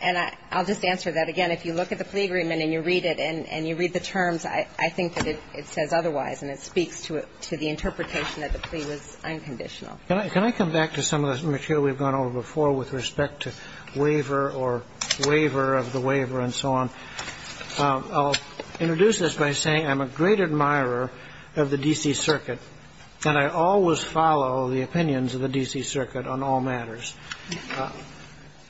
And I'll just answer that again. If you look at the plea agreement and you read it and you read the terms, I think that it says otherwise and it speaks to the interpretation that the plea was unconditional. Can I come back to some of the material we've gone over before with respect to waiver or waiver of the waiver and so on? I'll introduce this by saying I'm a great admirer of the D.C. Circuit, and I always follow the opinions of the D.C. Circuit on all matters.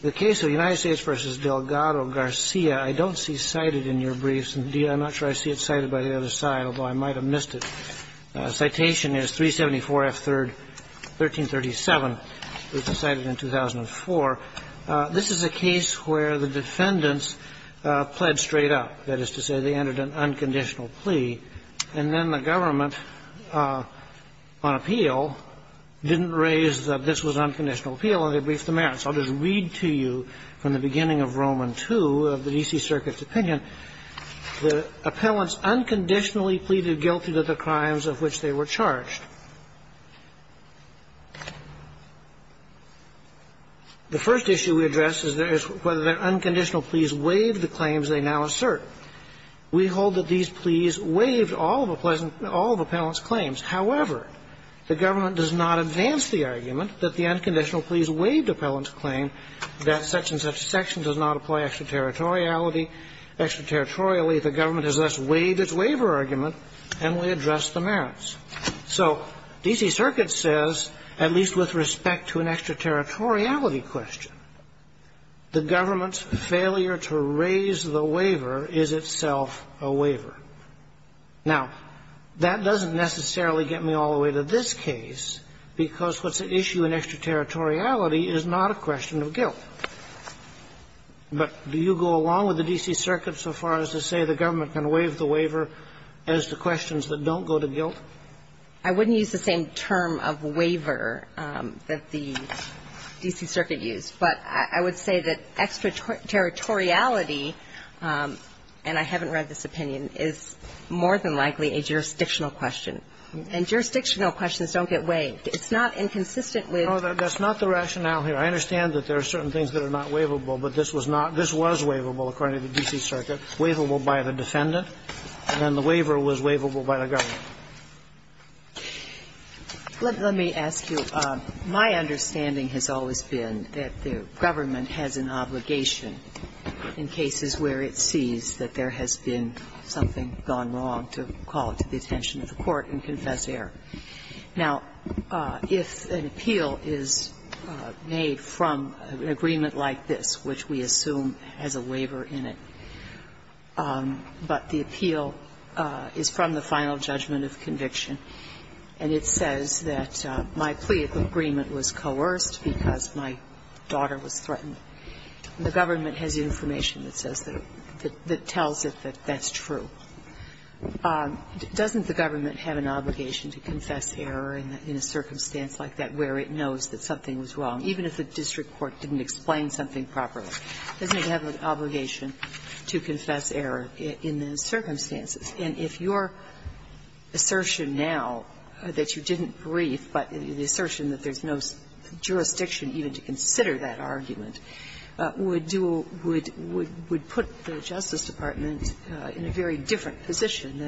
The case of United States v. Delgado Garcia, I don't see cited in your briefs. Indeed, I'm not sure I see it cited by the other side, although I might have missed it. Citation is 374 F. 3rd, 1337. It was cited in 2004. This is a case where the defendants pled straight up. That is to say, they entered an unconditional plea. And then the government, on appeal, didn't raise that this was unconditional appeal, and they briefed the merits. I'll just read to you from the beginning of Roman II of the D.C. Circuit's opinion. The appellants unconditionally pleaded guilty to the crimes of which they were charged. The first issue we address is whether their unconditional pleas waived the claims they now assert. We hold that these pleas waived all of appellant's claims. However, the government does not advance the argument that the unconditional pleas waived appellant's claim, that such and such section does not apply extraterritoriality. Extraterritorially, the government has thus waived its waiver argument, and we address the merits. So D.C. Circuit says, at least with respect to an extraterritoriality question, the government's failure to raise the waiver is itself a waiver. Now, that doesn't necessarily get me all the way to this case, because what's at issue in extraterritoriality is not a question of guilt. But do you go along with the D.C. Circuit so far as to say the government can waive the waiver as to questions that don't go to guilt? I wouldn't use the same term of waiver that the D.C. Circuit used. But I would say that extraterritoriality, and I haven't read this opinion, is more than likely a jurisdictional question. And jurisdictional questions don't get waived. It's not inconsistent with ---- No, that's not the rationale here. I understand that there are certain things that are not waivable, but this was not waivable, according to the D.C. Circuit, waivable by the defendant, and the waiver was waivable by the government. Let me ask you, my understanding has always been that the government has an obligation in cases where it sees that there has been something gone wrong to call it to the attention of the court and confess error. Now, if an appeal is made from an agreement like this, which we assume has a waiver in it, but the appeal is from the final judgment of conviction, and it says that my plea of agreement was coerced because my daughter was threatened, the government has information that says that, that tells it that that's true. Doesn't the government have an obligation to confess error in a circumstance like that where it knows that something was wrong, even if the district court didn't explain something properly? Doesn't it have an obligation to confess error in those circumstances? And if your assertion now that you didn't brief, but the assertion that there's no jurisdiction even to consider that argument, would do or would put the Justice Department in a very different position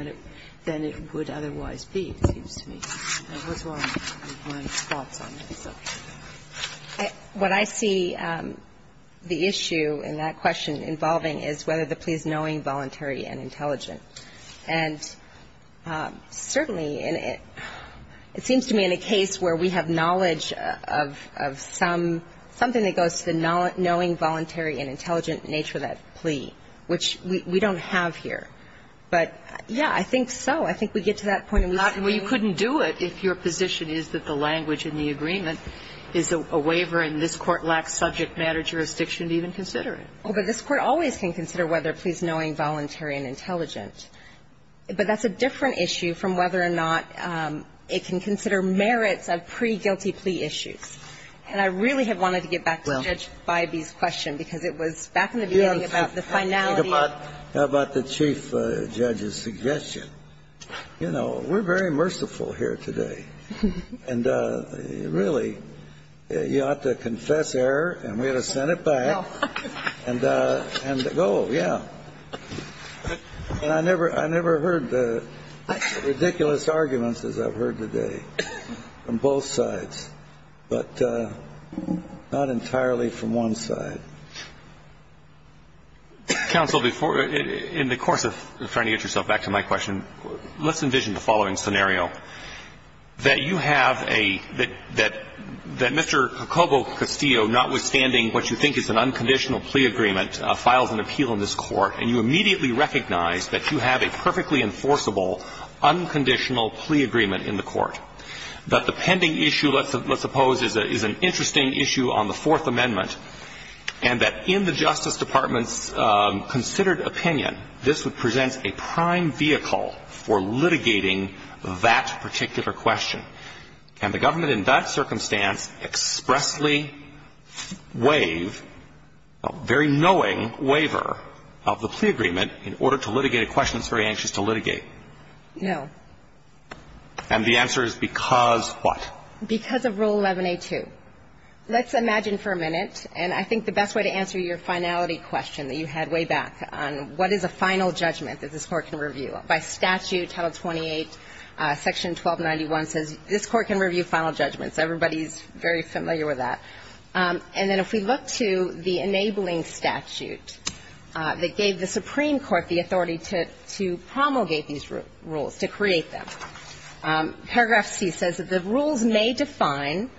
than it would otherwise be, it seems to me. What's wrong with my thoughts on this? What I see the issue in that question involving is whether the plea is knowing, voluntary, and intelligent. And certainly, it seems to me in a case where we have knowledge of some, something that goes to the knowing, voluntary, and intelligent nature of that plea, which we don't have here. But, yeah, I think so. I think we get to that point. Well, you couldn't do it if your position is that the language in the agreement is a waiver, and this Court lacks subject matter jurisdiction to even consider it. Oh, but this Court always can consider whether a plea is knowing, voluntary, and intelligent. But that's a different issue from whether or not it can consider merits of pre-guilty plea issues. And I really have wanted to get back to Judge Bybee's question, because it was back in the beginning about the finality of the case. You know, we're very merciful here today. And, really, you ought to confess error, and we ought to send it back, and go. Yeah. And I never heard the ridiculous arguments as I've heard today from both sides, but not entirely from one side. Counsel, in the course of trying to get yourself back to my question, let's envision the following scenario. That you have a — that Mr. Jacobo Castillo, notwithstanding what you think is an unconditional plea agreement, files an appeal in this Court, and you immediately recognize that you have a perfectly enforceable, unconditional plea agreement in the Court. That the pending issue, let's suppose, is an interesting issue on the Fourth Amendment, and that in the Justice Department's considered opinion, this would present a prime vehicle for litigating that particular question. Can the government in that circumstance expressly waive a very knowing waiver of the plea agreement in order to litigate a question it's very anxious to litigate? No. And the answer is because what? Because of Rule 11a2. Let's imagine for a minute, and I think the best way to answer your finality question that you had way back on what is a final judgment that this Court can review. By statute, Title 28, Section 1291 says this Court can review final judgments. Everybody is very familiar with that. And then if we look to the enabling statute that gave the Supreme Court the authority to promulgate these rules, to create them, paragraph C says that the rules may define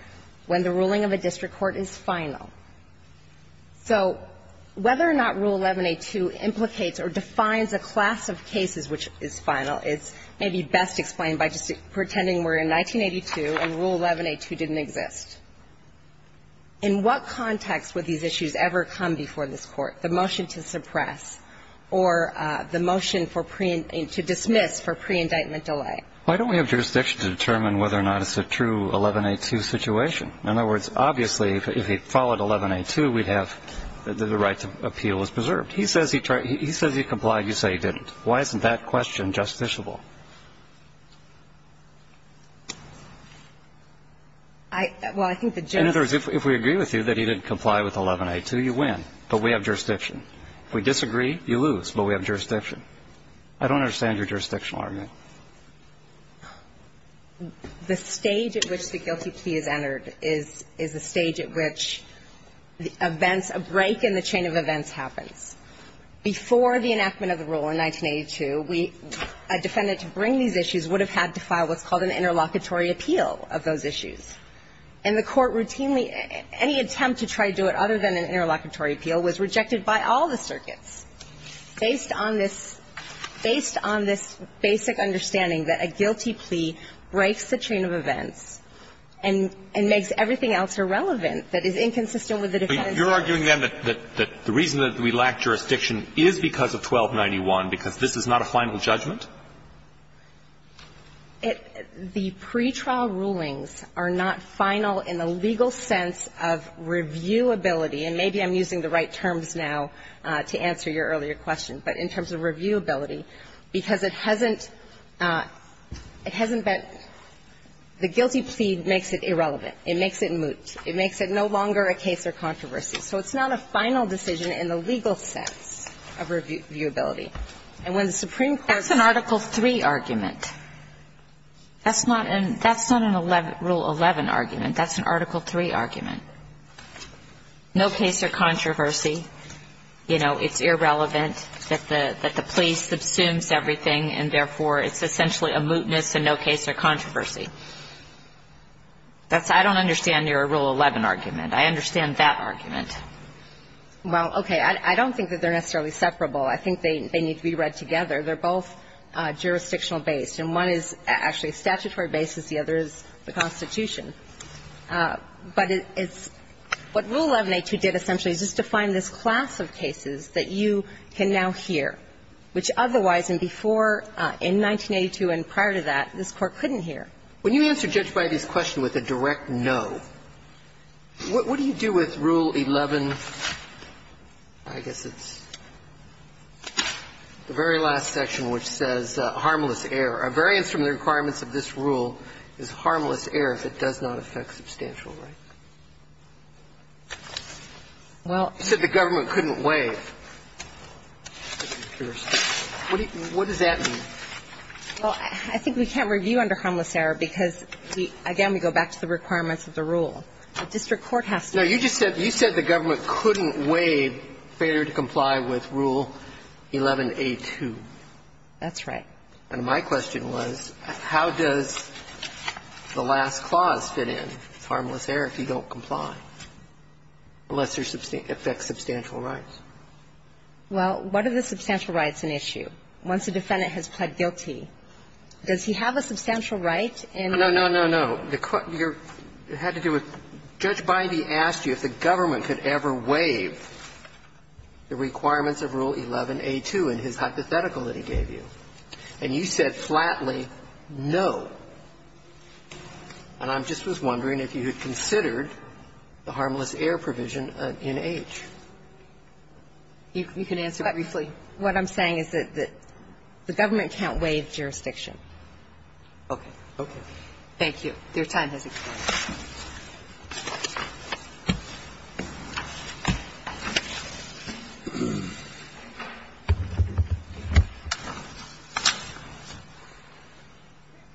when the ruling of a district court is final. So whether or not Rule 11a2 implicates or defines a class of cases which is final is maybe best explained by just pretending we're in 1982 and Rule 11a2 didn't exist. In what context would these issues ever come before this Court, the motion to suppress or the motion for pre-indictment, to dismiss for pre-indictment delay? Why don't we have jurisdiction to determine whether or not it's a true 11a2 situation? In other words, obviously, if he followed 11a2, we'd have the right to appeal as preserved. He says he complied. You say he didn't. Why isn't that question justiciable? Well, I think the judge ---- In other words, if we agree with you that he didn't comply with 11a2, you win, but we have jurisdiction. If we disagree, you lose, but we have jurisdiction. I don't understand your jurisdictional argument. The stage at which the guilty plea is entered is a stage at which the events, a break in the chain of events happens. Before the enactment of the rule in 1982, we ---- a defendant to bring these issues would have had to file what's called an interlocutory appeal of those issues. And the Court routinely ---- any attempt to try to do it other than an interlocutory appeal was rejected by all the circuits. Based on this ---- based on this basic understanding that a guilty plea breaks the chain of events and makes everything else irrelevant, that is inconsistent with the defendant's purpose. But you're arguing, then, that the reason that we lack jurisdiction is because of 1291, because this is not a final judgment? It ---- the pretrial rulings are not final in the legal sense of reviewability and maybe I'm using the right terms now to answer your earlier question. But in terms of reviewability, because it hasn't been ---- the guilty plea makes it irrelevant. It makes it moot. It makes it no longer a case or controversy. So it's not a final decision in the legal sense of reviewability. And when the Supreme Court ---- That's an Article III argument. That's not an ---- that's not a Rule 11 argument. That's an Article III argument. No case or controversy. You know, it's irrelevant that the ---- that the plea subsumes everything, and therefore, it's essentially a mootness and no case or controversy. That's ---- I don't understand your Rule 11 argument. I understand that argument. Well, okay. I don't think that they're necessarily separable. I think they need to be read together. They're both jurisdictional-based. And one is actually statutory basis. The other is the Constitution. But it's ---- what Rule 1182 did essentially is just define this class of cases that you can now hear, which otherwise in before ---- in 1982 and prior to that, this Court couldn't hear. When you answer Judge Bidey's question with a direct no, what do you do with Rule 11? I guess it's the very last section, which says harmless error. A variance from the requirements of this rule is harmless error if it does not affect substantial rights. Well ---- You said the government couldn't waive. What does that mean? Well, I think we can't review under harmless error because, again, we go back to the requirements of the rule. The district court has to ---- No, you just said the government couldn't waive failure to comply with Rule 1182. That's right. And my question was, how does the last clause fit in, harmless error, if you don't comply, unless it affects substantial rights? Well, what are the substantial rights in issue? Once a defendant has pled guilty, does he have a substantial right in ---- No, no, no, no. You're ---- it had to do with ---- Judge Bidey asked you if the government could ever waive the requirements of Rule 1182 in his hypothetical that he gave you. And you said flatly, no. And I just was wondering if you had considered the harmless error provision in H. You can answer briefly. What I'm saying is that the government can't waive jurisdiction. Okay. Okay. Thank you. Your time has expired.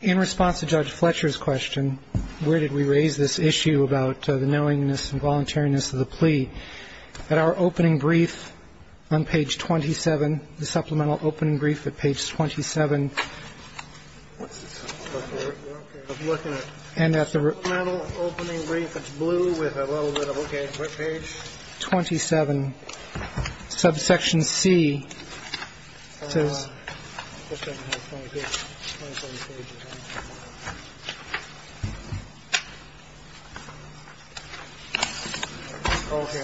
In response to Judge Fletcher's question, where did we raise this issue about the knowingness and voluntariness of the plea? At our opening brief on page 27, the supplemental opening brief at page 27. I'm looking at supplemental opening brief. It's blue with a little bit of, okay, what page? 27, subsection C.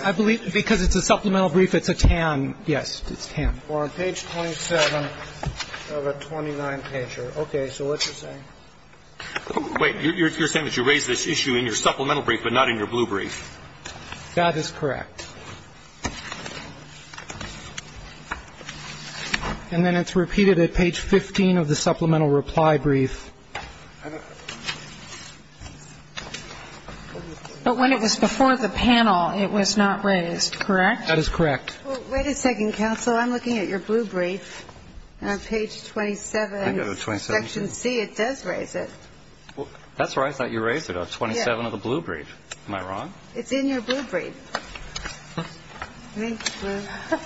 I believe because it's a supplemental brief, it's a TAM. Yes, it's TAM. Well, I'm going to go back and look at the supplemental briefing on page 27 of a 29-pager. Okay. So what's it saying? Wait. You're saying that you raised this issue in your supplemental brief but not in your blue brief. That is correct. And then it's repeated at page 15 of the supplemental reply brief. But when it was before the panel, it was not raised, correct? That is correct. Well, wait a second, counsel. I'm looking at your blue brief. On page 27, section C, it does raise it. That's right. I thought you raised it on 27 of the blue brief. Am I wrong? It's in your blue brief. Thank you.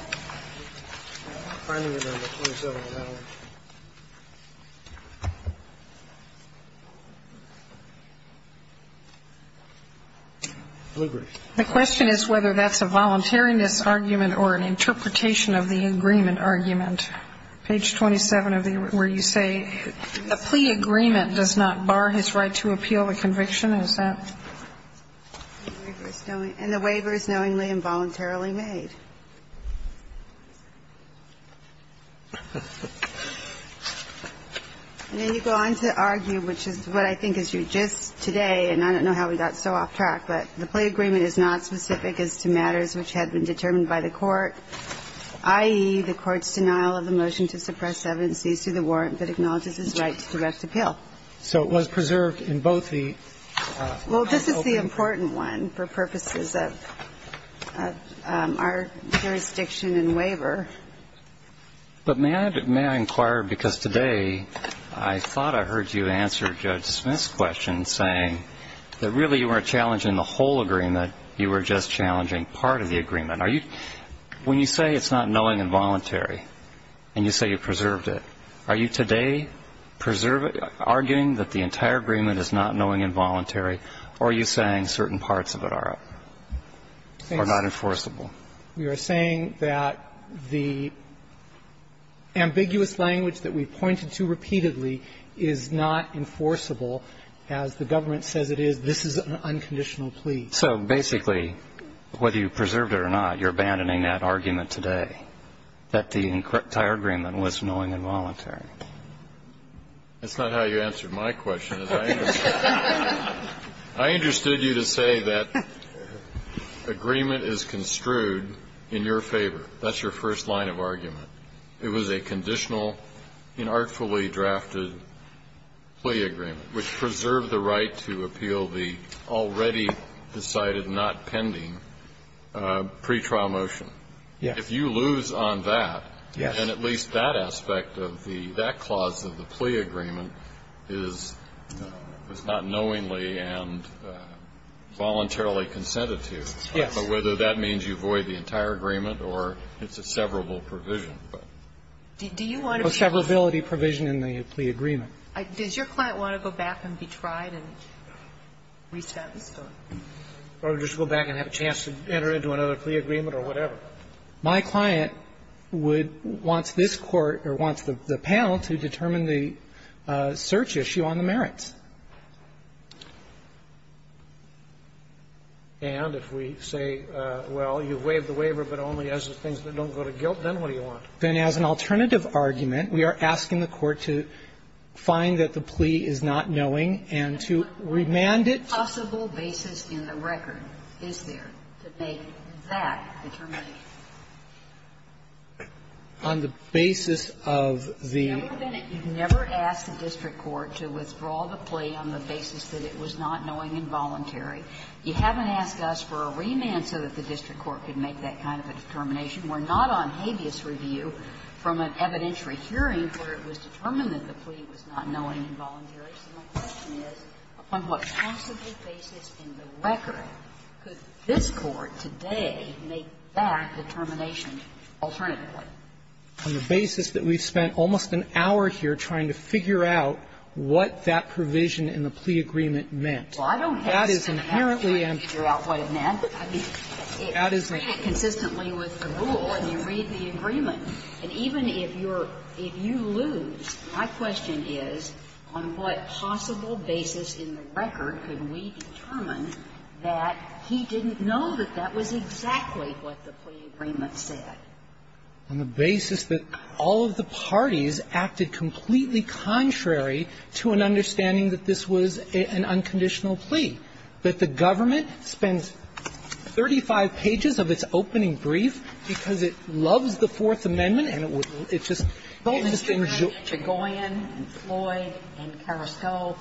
Blue brief. The question is whether that's a voluntariness argument or an interpretation of the agreement argument. Page 27 of the, where you say, the plea agreement does not bar his right to appeal the conviction. Is that? And the waiver is knowingly and voluntarily made. And then you go on to argue, which is what I think is your gist today, and I don't know how we got so off track, but the plea agreement is not specific as to matters which had been determined by the court, i.e., the court's denial of the motion to suppress evidences to the warrant that acknowledges his right to direct appeal. So it was preserved in both the open and closed cases. Well, this is the important one for purposes of our jurisdiction and waiver. But may I inquire, because today I thought I heard you answer Judge Smith's question saying that really you weren't challenging the whole agreement, you were just challenging part of the agreement. When you say it's not knowingly and voluntarily and you say you preserved it, are you today arguing that the entire agreement is not knowingly and voluntarily or are you saying certain parts of it are not enforceable? We are saying that the ambiguous language that we pointed to repeatedly is not enforceable as the government says it is. This is an unconditional plea. So basically, whether you preserved it or not, you're abandoning that argument today, that the entire agreement was knowingly and voluntarily. That's not how you answered my question. I understood you to say that agreement is construed in your favor. That's your first line of argument. It was a conditional, inartfully drafted plea agreement, which preserved the right to appeal the already decided, not pending pretrial motion. Yes. If you lose on that, then at least that aspect of the that clause of the plea agreement is not knowingly and voluntarily consented to. Yes. But whether that means you void the entire agreement or it's a severable provision. Do you want to be tried? A severability provision in the plea agreement. Does your client want to go back and be tried and re-statustored? Or just go back and have a chance to enter into another plea agreement or whatever? My client would want this Court or wants the panel to determine the search issue on the merits. And if we say, well, you waived the waiver, but only as the things that don't go to guilt, then what do you want? Then as an alternative argument, we are asking the Court to find that the plea is not knowing and to remand it. Is there a possible basis in the record, is there, to make that determination? On the basis of the ---- You've never asked the district court to withdraw the plea on the basis that it was not knowing and voluntary. You haven't asked us for a remand so that the district court could make that kind of a determination. We're not on habeas review from an evidentiary hearing where it was determined that the plea was not knowing and voluntary. So my question is, on what possible basis in the record could this Court today make that determination alternatively? On the basis that we've spent almost an hour here trying to figure out what that provision in the plea agreement meant. Well, I don't have to ask you to figure out what it meant. I mean, it's consistent with the rule, and you read the agreement. And even if you're ---- if you lose, my question is, on what possible basis in the record could we determine that he didn't know that that was exactly what the plea agreement said? On the basis that all of the parties acted completely contrary to an understanding that this was an unconditional plea, that the government spends 35 pages of its opening brief because it loves the Fourth Amendment, and it would just ---- Chagoin and Floyd and Carrasco,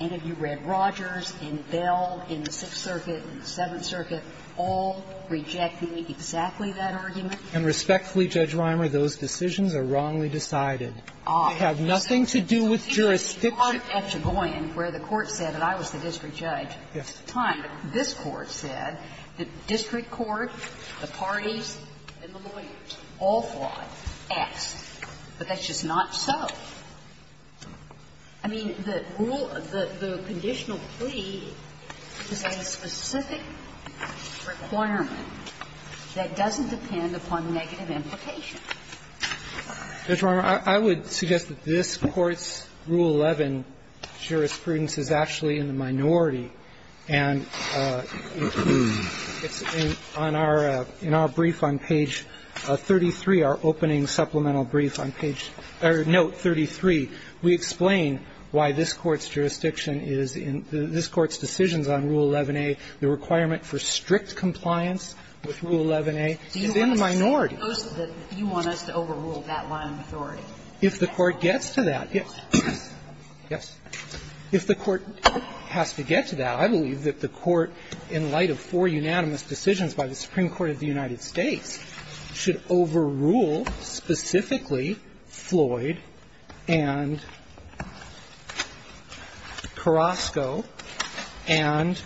and if you read Rogers and Bell in the Sixth Circuit and the Seventh Circuit, all rejected exactly that argument? And respectfully, Judge Reimer, those decisions are wrongly decided. They have nothing to do with jurisdiction. At Chagoin, where the Court said that I was the district judge, at the time, this Court said, the district court, the parties, and the lawyers all fought, asked, but that's just not so. I mean, the rule of the conditional plea is a specific requirement that doesn't depend upon negative implication. Roberts, I would suggest that this Court's Rule 11 jurisprudence is actually in the minority, and it's on our ---- in our brief on page 33, our opening supplemental brief on page or note 33, we explain why this Court's jurisdiction is in ---- this Court's decisions on Rule 11a, the requirement for strict compliance with Rule 11a is in the minority. You want us to overrule that line of authority? If the Court gets to that, yes. If the Court has to get to that, I believe that the Court, in light of four unanimous decisions by the Supreme Court of the United States, should overrule specifically Floyd and Carrasco and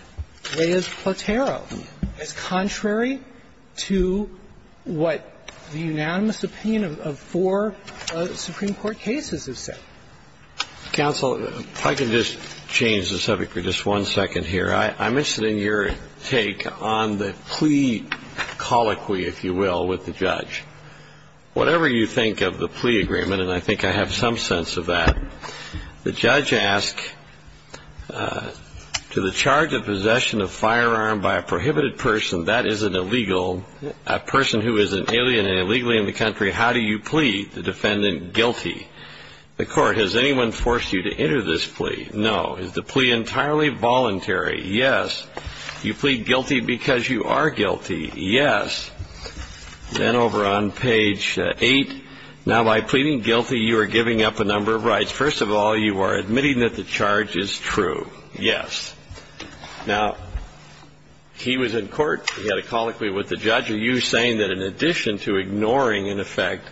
Reyes-Portero, as contrary to what the unanimous opinion of four Supreme Court cases have said. Counsel, if I could just change the subject for just one second here. I'm interested in your take on the plea colloquy, if you will, with the judge. Whatever you think of the plea agreement, and I think I have some sense of that, the judge asked, to the charge of possession of firearm by a prohibited person, that is an illegal, a person who is an alien and illegally in the country, how do you plead the defendant guilty? The Court, has anyone forced you to enter this plea? No. Is the plea entirely voluntary? Yes. Do you plead guilty because you are guilty? Yes. Then over on page 8, now, by pleading guilty, you are giving up a number of rights. First of all, you are admitting that the charge is true. Yes. Now, he was in court. He had a colloquy with the judge. Are you saying that in addition to ignoring, in effect,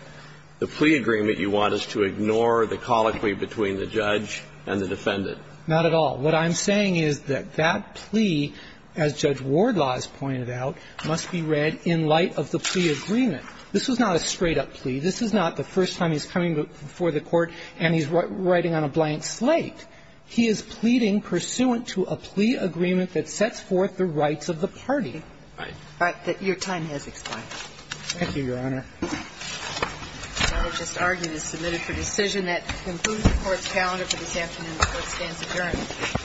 the plea agreement you want us to ignore the colloquy between the judge and the defendant? Not at all. What I'm saying is that that plea, as Judge Wardlaw has pointed out, must be read in light of the plea agreement. This was not a straight-up plea. This is not the first time he's coming before the Court and he's writing on a blank slate. He is pleading pursuant to a plea agreement that sets forth the rights of the party. Right. Your time has expired. Thank you, Your Honor. The matter just argued is submitted for decision. That concludes the Court's calendar for this afternoon. The Court stands adjourned.